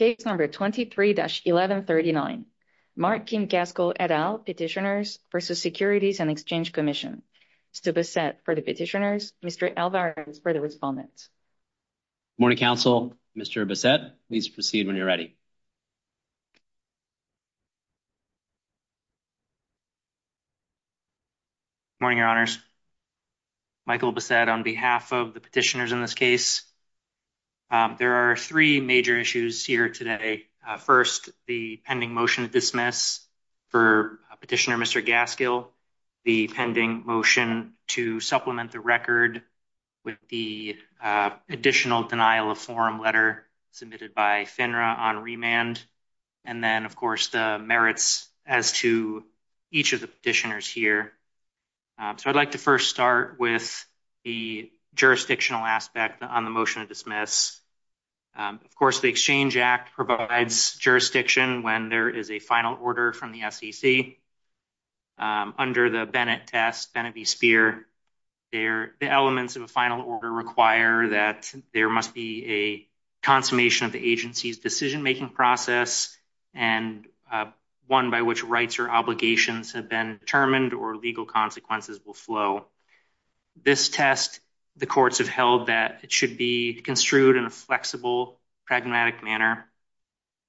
23-1139 Mark Kim Gaskill, et al. Petitioners v. Securities and Exchange Commission Mr. Bassett for the Petitioners Mr. Alvarez for the Respondents Good morning, counsel. Mr. Bassett, please proceed when you're ready. Good morning, your honors. Michael Bassett on behalf of the Petitioners in this case. There are three major issues here today. First, the pending motion to dismiss for Petitioner Mr. Gaskill. The pending motion to supplement the record with the additional denial of forum letter submitted by FINRA on remand. And then, of course, the merits as to each of the petitioners here. So I'd like to first start with the jurisdictional aspect on the motion to dismiss. Of course, the Exchange Act provides jurisdiction when there is a final order from the SEC. Under the Bennett test, Bennett v. Speer, the elements of a final order require that there must be a consummation of the agency's decision-making process and one by which rights or obligations have been determined or legal consequences will flow. This test, the courts have held that it should be construed in a flexible, pragmatic manner.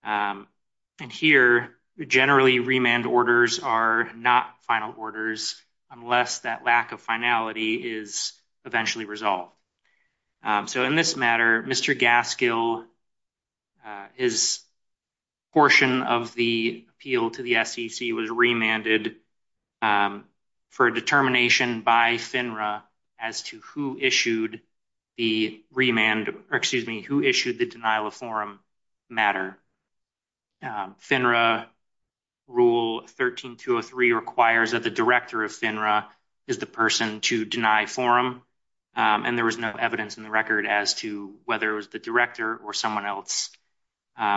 And here, generally remand orders are not final orders unless that lack of finality is eventually resolved. So in this matter, Mr. Gaskill, his portion of the appeal to the SEC was as to who issued the denial of forum matter. FINRA rule 13-203 requires that the director of FINRA is the person to deny forum, and there was no evidence in the record as to whether it was the director or someone else.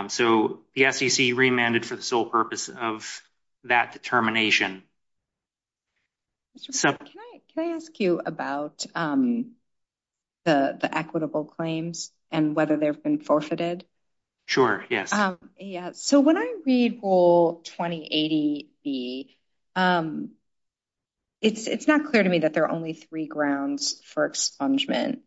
So the SEC remanded for the sole purpose of that determination. Mr. Gaskill, can I ask you about the equitable claims and whether they've been forfeited? Sure, yes. Yeah. So when I read Rule 2080B, it's not clear to me that there are only three grounds for expungement,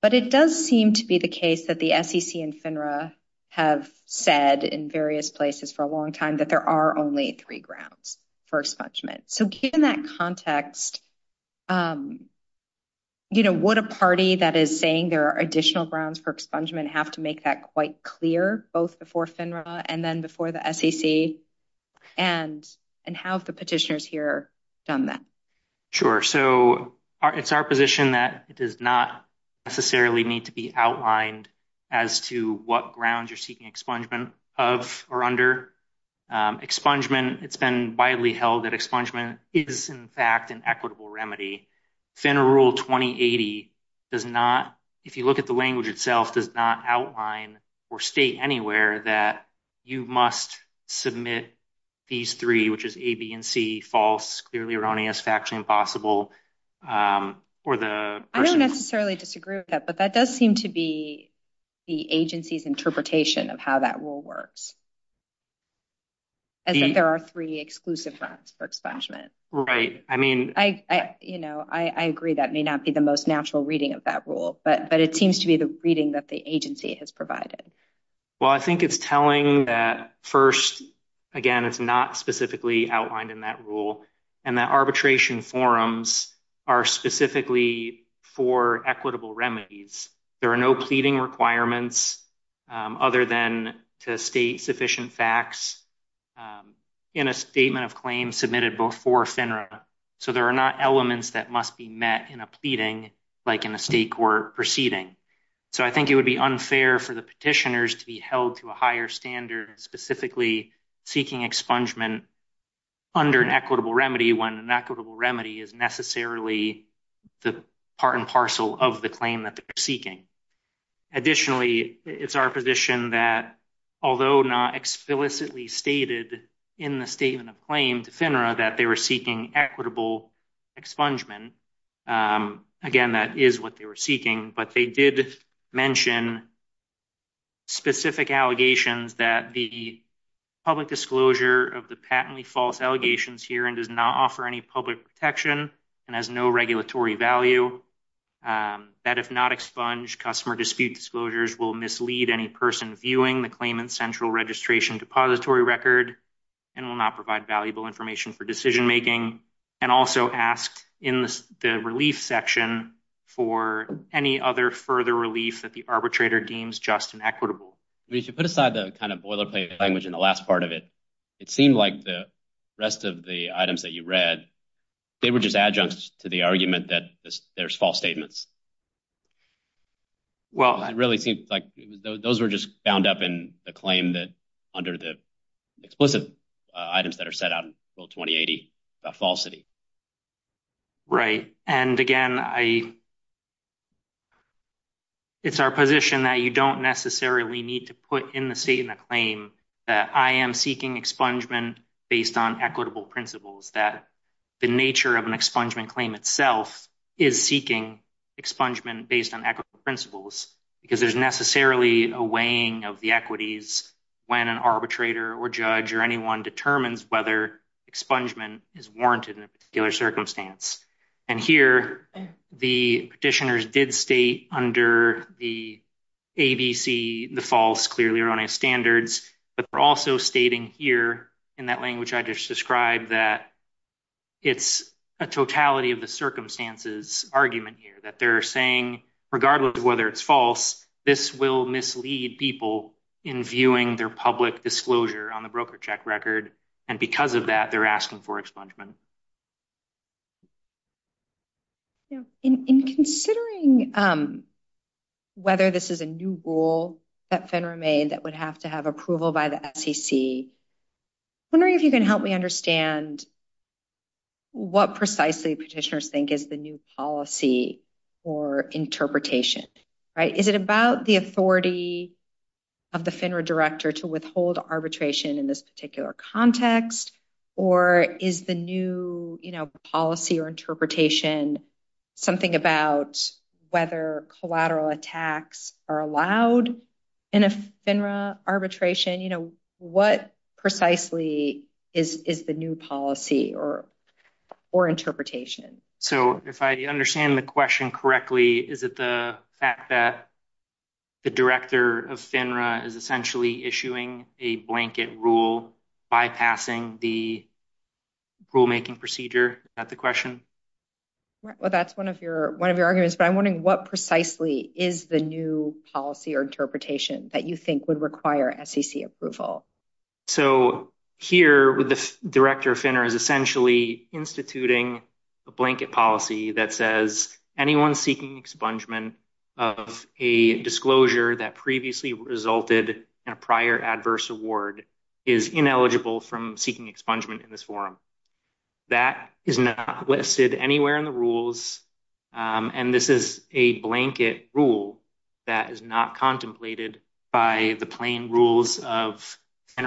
but it does seem to be the case that the SEC and FINRA have said in various places for a long time that there are only three grounds for expungement. So given that context, would a party that is saying there are additional grounds for expungement have to make that quite clear, both before FINRA and then before the SEC? And have the petitioners here done that? Sure. So it's our position that it does not necessarily need to be outlined as to what expungement. It's been widely held that expungement is, in fact, an equitable remedy. FINRA Rule 2080 does not, if you look at the language itself, does not outline or state anywhere that you must submit these three, which is A, B, and C, false, clearly erroneous, factually impossible. I don't necessarily disagree with that, but that does seem to be the agency's interpretation of how that rule works, as if there are three exclusive grounds for expungement. Right. I mean, I agree that may not be the most natural reading of that rule, but it seems to be the reading that the agency has provided. Well, I think it's telling that first, again, it's not specifically outlined in that rule, and that arbitration forums are specifically for equitable remedies. There are no pleading requirements other than to state sufficient facts in a statement of claims submitted before FINRA. So there are not elements that must be met in a pleading like in a state court proceeding. So I think it would be unfair for the petitioners to be held to a higher standard, specifically seeking expungement under an equitable remedy when an equitable remedy is necessarily the part and parcel of the claim that they're seeking. Additionally, it's our position that although not explicitly stated in the statement of claim to FINRA that they were seeking equitable expungement, again, that is what they were seeking, but they did mention specific allegations that the public disclosure of the patently false allegations here and does offer any public protection and has no regulatory value, that if not expunged, customer dispute disclosures will mislead any person viewing the claimant's central registration depository record and will not provide valuable information for decision making, and also asked in the relief section for any other further relief that the arbitrator deems just and equitable. If you put aside the kind of boilerplate language in the last part of it, it seemed like the rest of the items that you read, they were just adjuncts to the argument that there's false statements. Well, it really seems like those were just bound up in the claim that under the explicit items that are set out in rule 2080 about falsity. Right, and again, it's our position that you don't necessarily need to put in the state in the claim that I am seeking expungement based on equitable principles, that the nature of an expungement claim itself is seeking expungement based on equitable principles, because there's necessarily a weighing of the equities when an arbitrator or judge or anyone determines whether expungement is warranted in a particular circumstance. And here, the petitioners did state under the ABC the false clearly erroneous standards, but they're also stating here in that language I just described that it's a totality of the circumstances argument here, that they're saying regardless of whether it's false, this will mislead people in viewing their public disclosure on the broker check record, and because of that, they're asking for expungement. Yeah, in considering whether this is a new rule that FINRA made that would have to have approval by the SEC, I'm wondering if you can help me understand what precisely petitioners think is the new policy or interpretation, right? Is it about the authority of the FINRA director to withhold arbitration in this particular context, or is the new policy or interpretation something about whether collateral attacks are allowed in a FINRA arbitration? What precisely is the new policy or interpretation? So if I understand the question correctly, is it the fact that the director of FINRA is essentially issuing a blanket rule bypassing the rulemaking procedure? Is that the question? Well, that's one of your arguments, but I'm wondering what precisely is the new policy or interpretation that you think would require SEC approval? So here, the director of FINRA is essentially instituting a blanket policy that says anyone seeking expungement of a disclosure that previously resulted in a prior adverse award is ineligible from seeking expungement in this forum. That is not listed anywhere in the rules, and this is a blanket rule that is not contemplated by the plain rules of the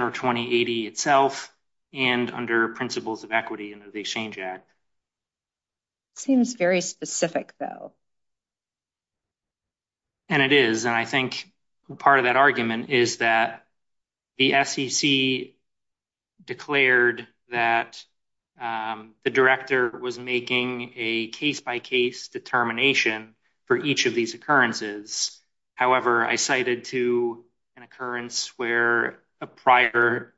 Exchange Act. Seems very specific though. And it is, and I think part of that argument is that the SEC declared that the director was making a case-by-case determination for each of these occurrences. However, I cited to an occurrence where a prior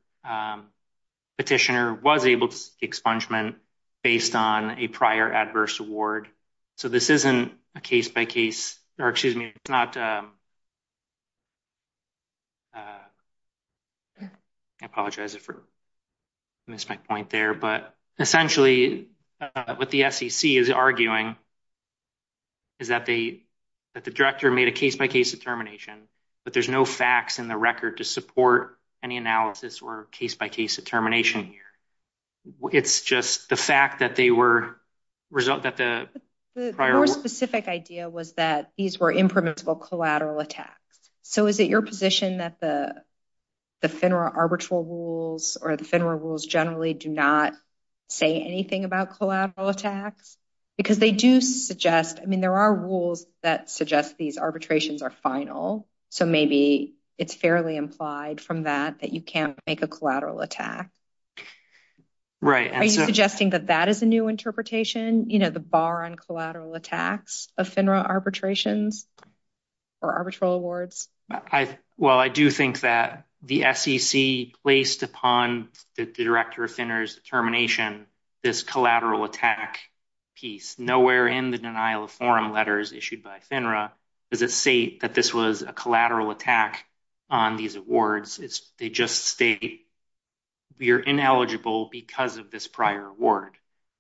petitioner was able to seek expungement based on a prior adverse award. So this isn't a case-by-case, or excuse me, it's not, I apologize if I missed my point there, but essentially what the SEC is arguing is that the director made a case-by-case determination, but there's no facts in the record to support any analysis or case-by-case determination here. It's just the fact that they were, that the prior... The more specific idea was that these were impermissible collateral attacks. So is it your position that the FINRA arbitral rules or the FINRA rules generally do not say anything about collateral attacks? Because they do suggest, there are rules that suggest these arbitrations are final. So maybe it's fairly implied from that, that you can't make a collateral attack. Are you suggesting that that is a new interpretation, the bar on collateral attacks of FINRA arbitrations or arbitral awards? Well, I do think that the SEC placed upon the director of FINRA's determination, this collateral attack piece, nowhere in the denial of forum letters issued by FINRA does it state that this was a collateral attack on these awards. They just state you're ineligible because of this prior award.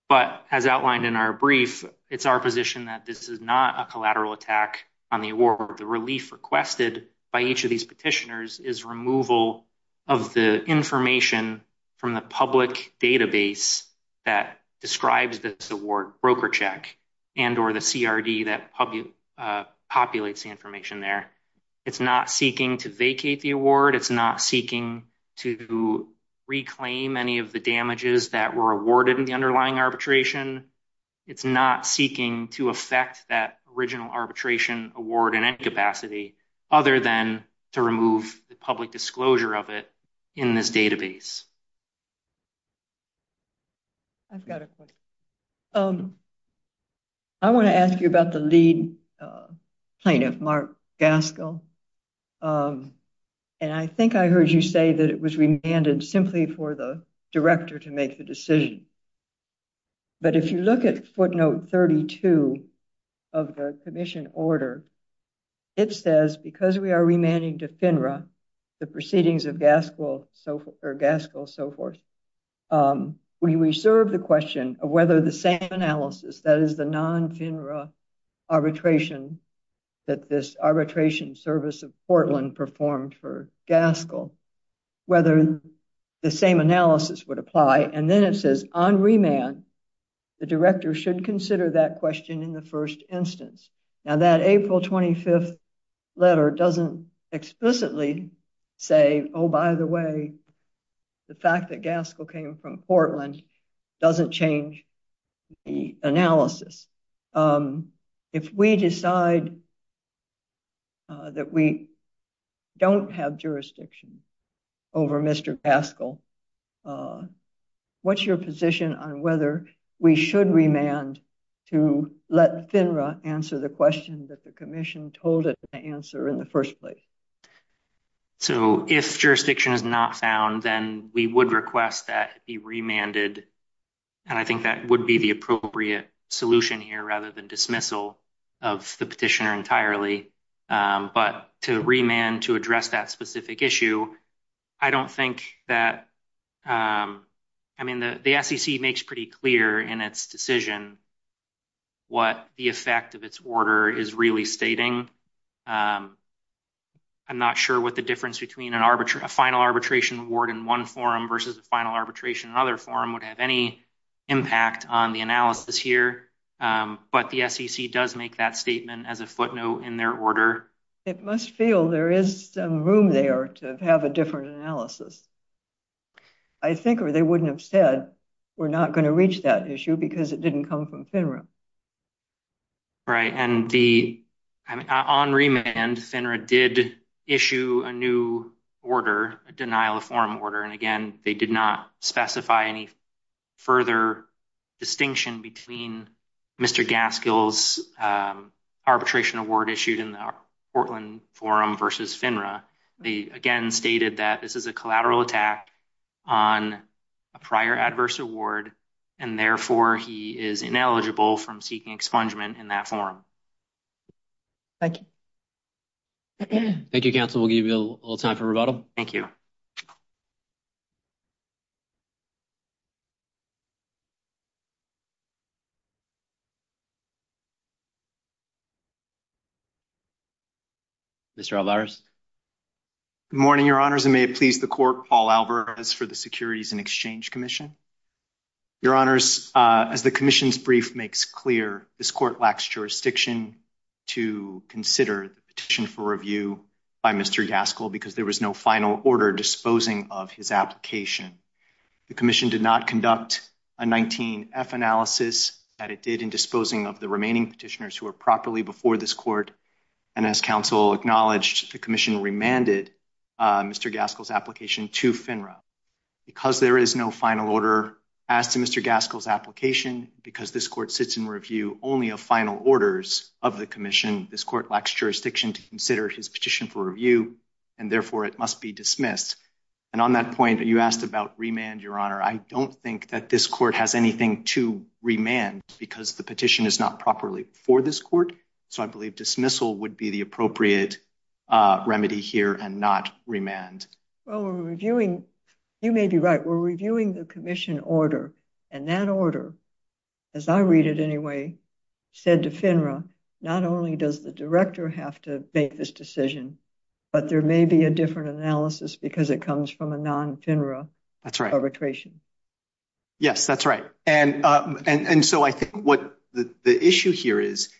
But as outlined in our brief, it's our position that this is not a collateral attack on the award. The relief requested by each of these petitioners is removal of the information from the public database that describes this award broker check and or the CRD that populates the information there. It's not seeking to vacate the award. It's not seeking to reclaim any of the damages that were awarded in the underlying arbitration. It's not seeking to affect that original arbitration award in any capacity other than to remove the public disclosure of it in this database. I've got a question. I want to ask you about the lead plaintiff, Mark Gaskell. And I think I heard you say that it was remanded simply for the director to make the decision. But if you look at footnote 32 of the commission order, it says because we are remanding to FINRA, the proceedings of Gaskell so forth, we reserve the question of whether the same analysis, that is the non-FINRA arbitration that this arbitration service of Portland performed for on remand, the director should consider that question in the first instance. Now, that April 25th letter doesn't explicitly say, oh, by the way, the fact that Gaskell came from Portland doesn't change the analysis. If we decide that we don't have jurisdiction over Mr. Gaskell, what's your position on whether we should remand to let FINRA answer the question that the commission told it to answer in the first place? So, if jurisdiction is not found, then we would request that it be remanded. And I think that would be the appropriate solution here rather than dismissal of the petitioner's entirely. But to remand to address that specific issue, I don't think that, I mean, the SEC makes pretty clear in its decision what the effect of its order is really stating. I'm not sure what the difference between a final arbitration award in one forum versus a final arbitration in another forum would have any impact on the analysis here. But the SEC does make that statement as a footnote in their order. It must feel there is some room there to have a different analysis. I think, or they wouldn't have said, we're not going to reach that issue because it didn't come from FINRA. Right. And on remand, FINRA did issue a new order, a denial of forum order. And again, they did not specify any further distinction between Mr. Gaskell's arbitration award issued in the Portland Forum versus FINRA. They again stated that this is a collateral attack on a prior adverse award and therefore he is ineligible from seeking expungement in that forum. Thank you. Thank you, counsel. We'll give you a little time for rebuttal. Thank you. Mr. Alvarez? Good morning, Your Honors, and may it please the Court, Paul Alvarez for the Securities and Exchange Commission. Your Honors, as the Commission's brief makes clear, this Court lacks jurisdiction to consider the petition for review by Mr. Gaskell because there was no final order disposing of his application. The Commission did not conduct a 19-F analysis that it did in disposing of the remaining petitioners who were properly before this Court, and as counsel acknowledged, the Commission remanded Mr. Gaskell's application to FINRA. Because there is no final order as to Mr. Gaskell's application, because this Court sits in review only of final orders of the Commission, this Court lacks jurisdiction to consider his petition for review, and therefore it must be dismissed. And on that point, you asked about remand, Your Honor. I don't think that this Court has anything to remand because the petition is not properly before this Court, so I believe dismissal would be the appropriate remedy here and not remand. Well, we're reviewing, you may be right, we're reviewing the Commission order, and that order, as I read it anyway, said to FINRA, not only does the Director have to make this decision, but there may be a different analysis because it comes from a non-FINRA arbitration. Yes, that's right, and so I think what the issue here is,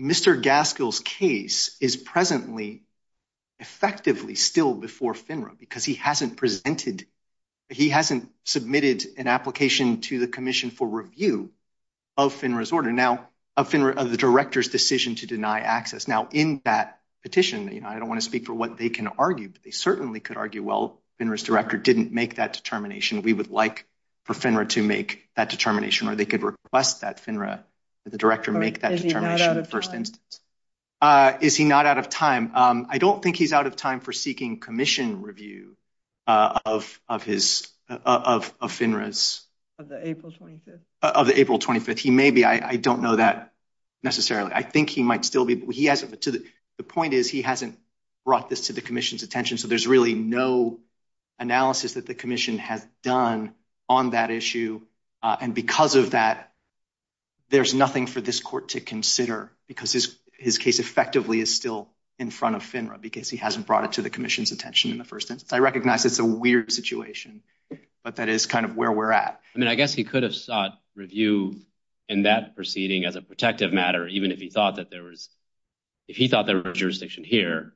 Mr. Gaskell's case is presently effectively still before FINRA because he hasn't presented, he hasn't submitted an application to the Commission for review of FINRA's order. Now of FINRA, of the Director's decision to deny access, now in that petition, you know, I don't want to speak for what they can argue, but they certainly could argue, well, FINRA's Director didn't make that determination, we would like for FINRA to make that determination, or they could request that FINRA, the Director make that determination in the first instance. Is he not out of time? I don't think he's out of time for seeking Commission review of FINRA's. Of the April 25th. Of the April 25th, he may be, I don't know that necessarily. I think he might still be, he hasn't, the point is he hasn't brought this to the Commission's attention, so there's really no analysis that the Commission has done on that issue, and because of that, there's nothing for this Court to consider because his case effectively is still in front of FINRA because he hasn't brought it to the Commission's attention in the first instance. I recognize it's a weird situation, but that is kind of where we're at. I mean, I guess he could have sought review in that proceeding as a protective matter, even if he thought that there was, if he thought there was jurisdiction here,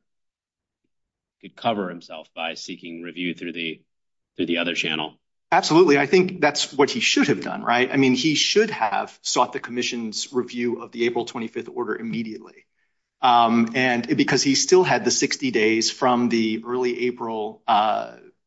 he could cover himself by seeking review through the other channel. Absolutely, I think that's what he should have done, right? I mean, he should have sought the Commission's review of the April 25th order immediately, and because he still had the 60 April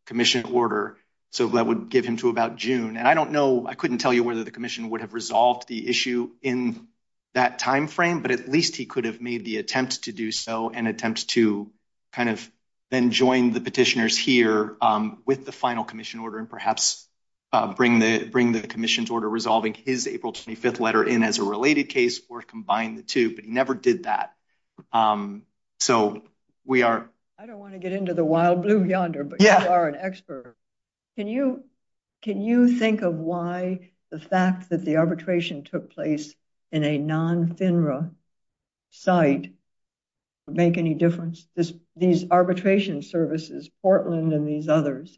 Commission order, so that would give him to about June. And I don't know, I couldn't tell you whether the Commission would have resolved the issue in that time frame, but at least he could have made the attempt to do so and attempt to kind of then join the petitioners here with the final Commission order and perhaps bring the Commission's order resolving his April 25th letter in as a related case or combine the two, but he never did that. So, we are I don't want to get into the wild blue yonder, but you are an expert. Can you think of why the fact that the arbitration took place in a non-FINRA site make any difference? These arbitration services, Portland and these others,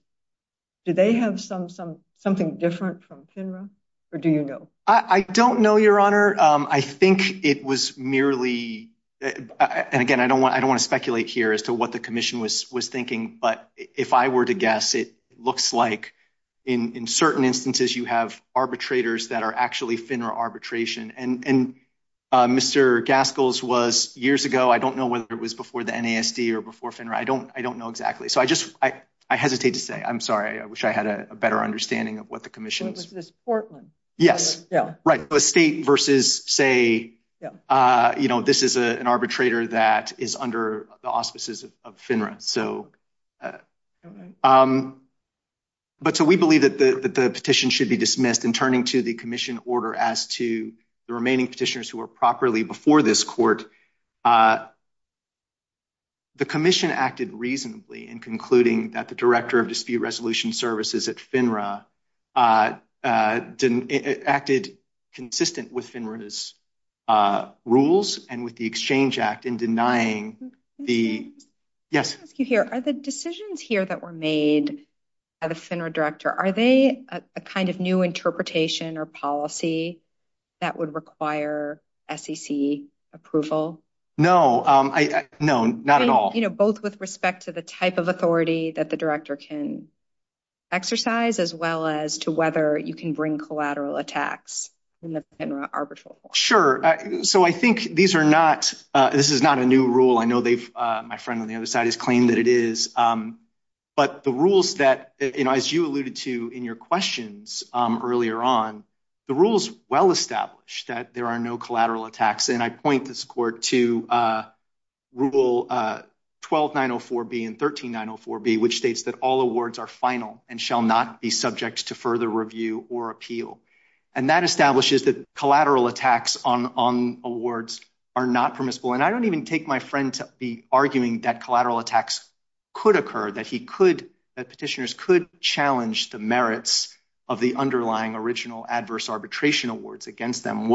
do they have something different from FINRA, or do you know? I don't know, Your Honor. I think it was merely, and again, I don't want to speculate here as to what the Commission was thinking, but if I were to guess, it looks like in certain instances, you have arbitrators that are actually FINRA arbitration, and Mr. Gaskill's was years ago. I don't know whether it was before the NASD or before FINRA. I don't know exactly, so I just I hesitate to say. I'm sorry. I wish I had a better understanding of what the Commission Portland. Yes. Yeah. Right. The state versus say, you know, this is an arbitrator that is under the auspices of FINRA. So, but so we believe that the petition should be dismissed in turning to the Commission order as to the remaining petitioners who are properly before this court. The Commission acted reasonably in concluding that the Director of Dispute Resolution Services at FINRA didn't acted consistent with FINRA's rules and with the Exchange Act in denying the yes, you hear are the decisions here that were made at a FINRA director. Are they a kind of new interpretation or policy that would require SEC approval? No, I know not at all, both with respect to the type of authority that the director can exercise as well as to whether you can bring collateral attacks in the FINRA arbitral. Sure. So I think these are not, this is not a new rule. I know they've, my friend on the other side has claimed that it is, but the rules that, you know, as you alluded to in your questions earlier on, the rules well established that there are no collateral attacks. And I point this court to rule 12904B and 13904B, which states that all awards are final and shall not be subject to further review or appeal. And that establishes that collateral attacks on awards are not permissible. And I don't even take my friend to be arguing that collateral attacks could occur, that he could, that petitioners could challenge the merits of the underlying original adverse arbitration awards against them.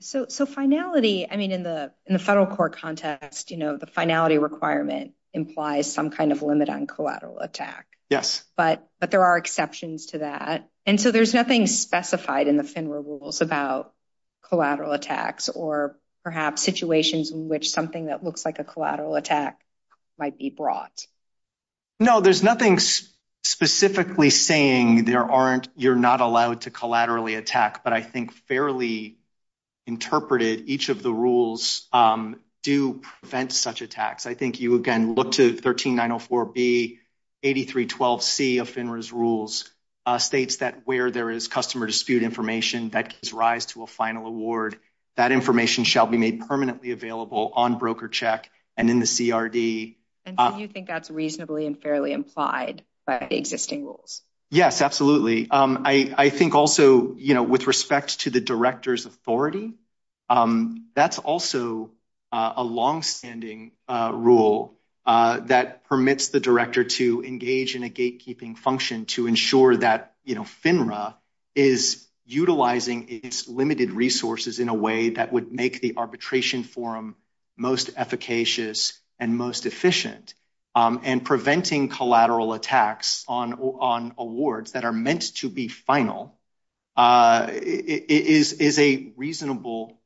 So finality, I mean, in the federal court context, you know, the finality requirement implies some kind of limit on collateral attack. Yes. But there are exceptions to that. And so there's nothing specified in the FINRA rules about collateral attacks or perhaps situations in which something that looks like a collateral attack might be brought. No, there's nothing specifically saying there aren't, you're not allowed to collaterally attack, but I think fairly interpreted, each of the rules do prevent such attacks. I think you again look to 13904B, 8312C of FINRA's rules states that where there is customer dispute information that gives rise to a final award, that information shall be made permanently available on broker check and in the CRD. And do you think that's reasonably and fairly implied by existing rules? Yes, absolutely. I think also, you know, with respect to the director's authority, that's also a long standing rule that permits the director to engage in a gatekeeping function to ensure that, you know, FINRA is utilizing its limited resources in a way that would make the arbitration forum most efficacious and most efficient. And preventing collateral attacks on awards that are meant to be final is a reasonable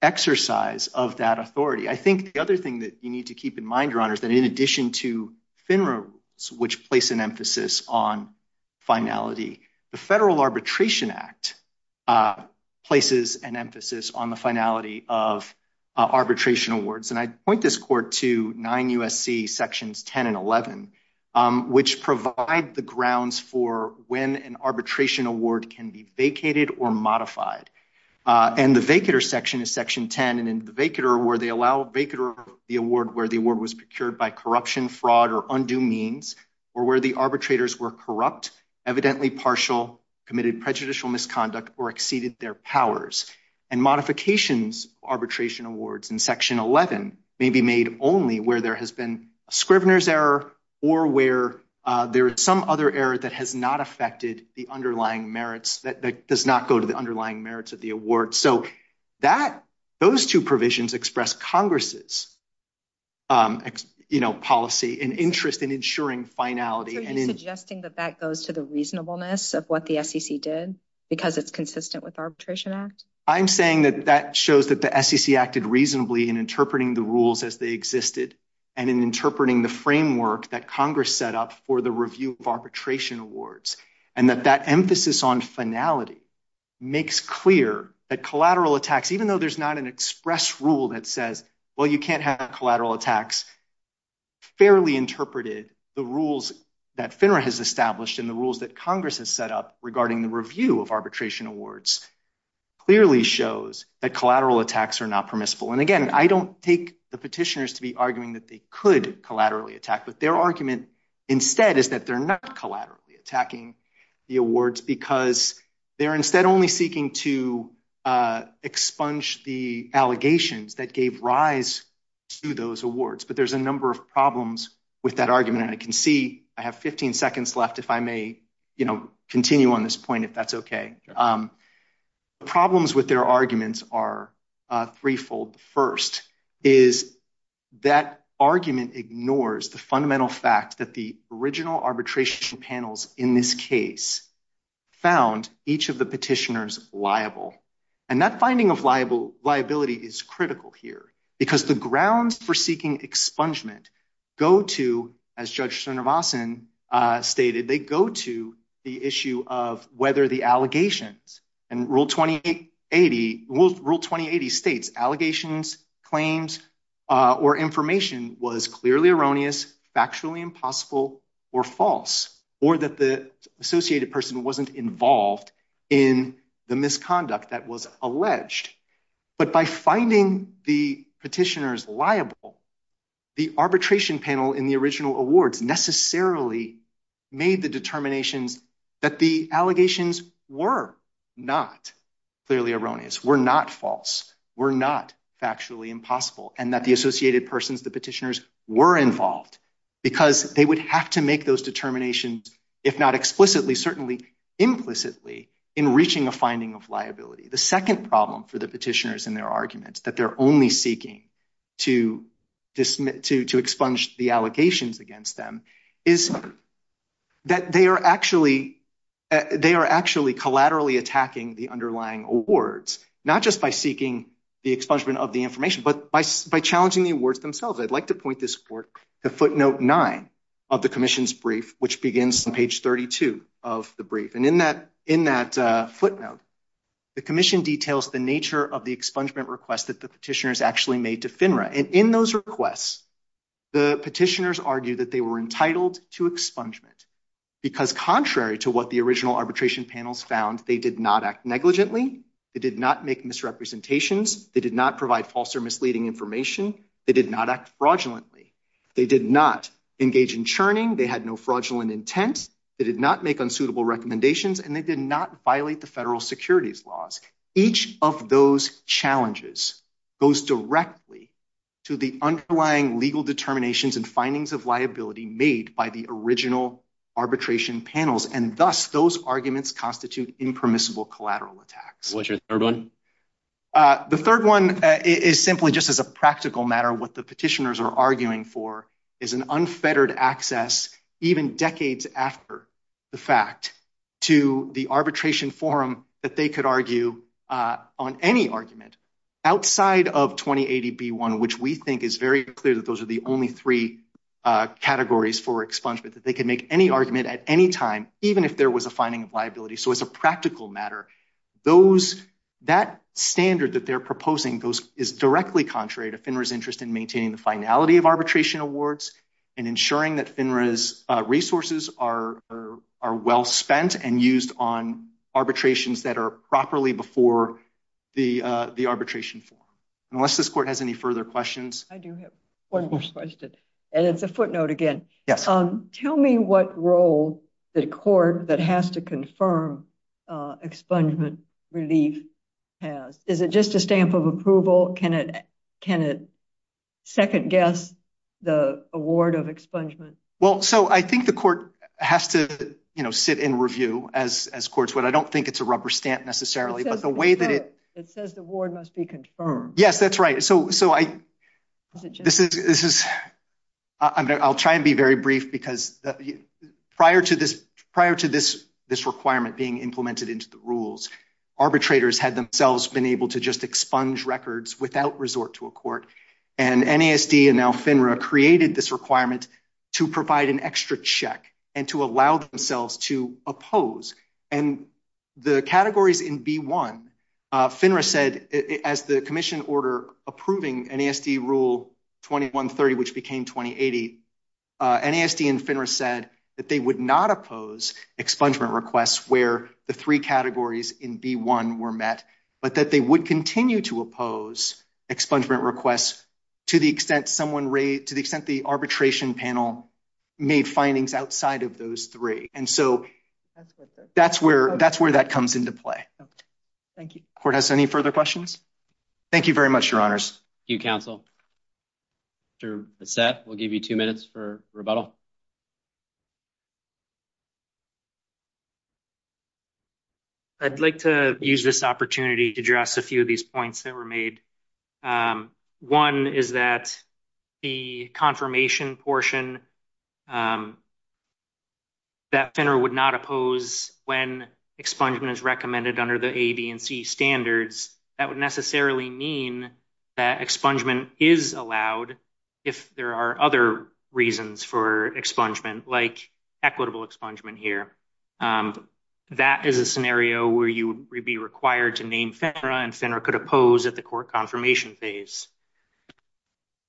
exercise of that authority. I think the other thing that you need to keep in mind, Your Honor, is that in addition to FINRA, which place an of arbitration awards. And I point this court to 9 U.S.C. Sections 10 and 11, which provide the grounds for when an arbitration award can be vacated or modified. And the vacater section is Section 10. And in the vacater award, they allow vacater the award where the award was procured by corruption, fraud, or undue means, or where the arbitrators were corrupt, evidently arbitration awards in Section 11 may be made only where there has been a Scrivener's error or where there is some other error that has not affected the underlying merits that does not go to the underlying merits of the award. So that those two provisions express Congress's, you know, policy and interest in ensuring finality. Are you suggesting that that goes to the reasonableness of what the SEC did because it's consistent with Arbitration Act? I'm saying that that shows that the SEC acted reasonably in interpreting the rules as they existed and in interpreting the framework that Congress set up for the review of arbitration awards. And that that emphasis on finality makes clear that collateral attacks, even though there's not an express rule that says, well, you can't have collateral attacks, fairly interpreted the rules that FINRA has established in the rules that Congress has set up regarding the review of arbitration awards, clearly shows that collateral attacks are not permissible. And again, I don't take the petitioners to be arguing that they could collaterally attack, but their argument instead is that they're not collaterally attacking the awards because they're instead only seeking to expunge the allegations that gave rise to those awards. But there's a number of problems with that argument. And I can see I have 15 seconds left, if I may, you know, the problems with their arguments are threefold. The first is that argument ignores the fundamental fact that the original arbitration panels in this case found each of the petitioners liable. And that finding of liability is critical here because the grounds for seeking expungement go to, as Judge Srinivasan stated, they go to the issue of whether the allegations and Rule 2080, Rule 2080 states allegations, claims, or information was clearly erroneous, factually impossible, or false, or that the associated person wasn't involved in the awards necessarily made the determinations that the allegations were not clearly erroneous, were not false, were not factually impossible, and that the associated persons, the petitioners, were involved because they would have to make those determinations, if not explicitly, certainly implicitly in reaching a finding of liability. The second problem for the petitioners in their arguments that they're only seeking to expunge the allegations against them is that they are actually, they are actually collaterally attacking the underlying awards, not just by seeking the expungement of the information, but by challenging the awards themselves. I'd like to point this report to footnote nine of the commission's brief, which begins on page 32 of the brief. And in that footnote, the commission details the expungement request that the petitioners actually made to FINRA. And in those requests, the petitioners argue that they were entitled to expungement because contrary to what the original arbitration panels found, they did not act negligently, they did not make misrepresentations, they did not provide false or misleading information, they did not act fraudulently, they did not engage in churning, they had no fraudulent intent, they did not make unsuitable recommendations, and they did not violate the federal securities laws. Each of those challenges goes directly to the underlying legal determinations and findings of liability made by the original arbitration panels. And thus, those arguments constitute impermissible collateral attacks. What's your third one? The third one is simply just as a practical matter, what the petitioners are arguing for is an unfettered access, even decades after the fact, to the arbitration forum that they could argue on any argument outside of 2080B1, which we think is very clear that those are the only three categories for expungement, that they can make any argument at any time, even if there was a finding of liability. So as a practical matter, that standard that they're proposing is directly contrary to FINRA's interest in maintaining the finality of arbitration awards and ensuring that FINRA's resources are well spent and used on arbitrations that are properly before the arbitration forum. Unless this court has any further questions. I do have one more question, and it's a footnote again. Tell me what role the court that has to can second guess the award of expungement? Well, so I think the court has to sit in review as courts would. I don't think it's a rubber stamp necessarily, but the way that it... It says the award must be confirmed. Yes, that's right. So I'll try and be very brief because prior to this requirement being implemented into the rules, arbitrators had themselves been able to just expunge records without resort to a court. And NASD and now FINRA created this requirement to provide an extra check and to allow themselves to oppose. And the categories in B1, FINRA said as the commission order approving NASD rule 2130, which became 2080, NASD and FINRA said that they would not oppose expungement where the three categories in B1 were met, but that they would continue to oppose expungement requests to the extent the arbitration panel made findings outside of those three. And so that's where that comes into play. Thank you. Court has any further questions? Thank you very much, your honors. Thank you, counsel. Mr. Bassett, we'll give you two minutes for rebuttal. I'd like to use this opportunity to address a few of these points that were made. One is that the confirmation portion that FINRA would not oppose when expungement is mean that expungement is allowed if there are other reasons for expungement like equitable expungement here. That is a scenario where you would be required to name FINRA and FINRA could oppose at the court confirmation phase.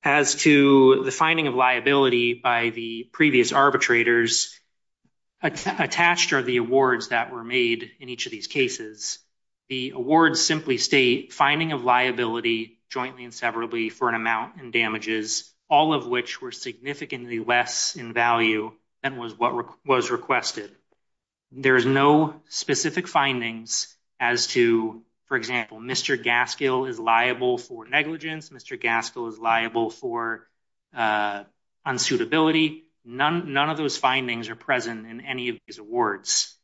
As to the finding of liability by the previous arbitrators, attached are the awards that were made in each of these cases. The awards simply state finding of liability jointly and severably for an amount and damages, all of which were significantly less in value than was what was requested. There is no specific findings as to, for example, Mr. Gaskell is liable for negligence. Mr. Gaskell is liable for unsuitability. None of those findings are present in any of these awards.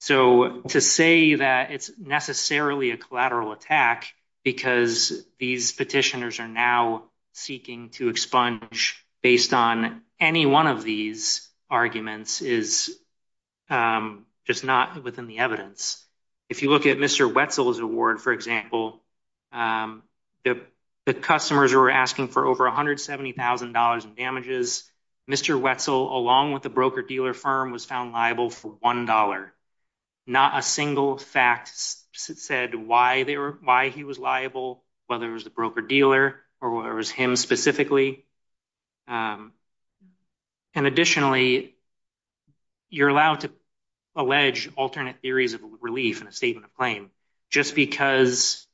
So to say that it's necessarily a collateral attack because these petitioners are now seeking to expunge based on any one of these arguments is just not within the evidence. If you look at Mr. Wetzel's award, for example, the customers were asking for over $170,000 in damages. Mr. Wetzel, along with the broker-dealer firm, was found liable for $1. Not a single fact said why he was liable, whether it was the broker-dealer or whether it was him specifically. And additionally, you're allowed to allege alternate theories of relief in a statement claim. Just because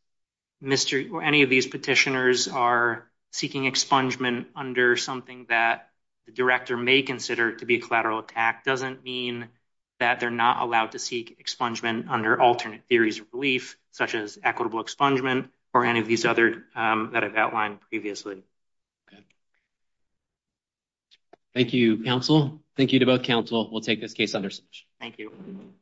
Mr. or any of these petitioners are seeking expungement under something that the director may consider to be a collateral attack doesn't mean that they're not allowed to seek expungement under alternate theories of relief, such as equitable expungement or any of these other that I've outlined previously. Thank you, counsel. Thank you to both counsel. We'll take this case under submission. Thank you.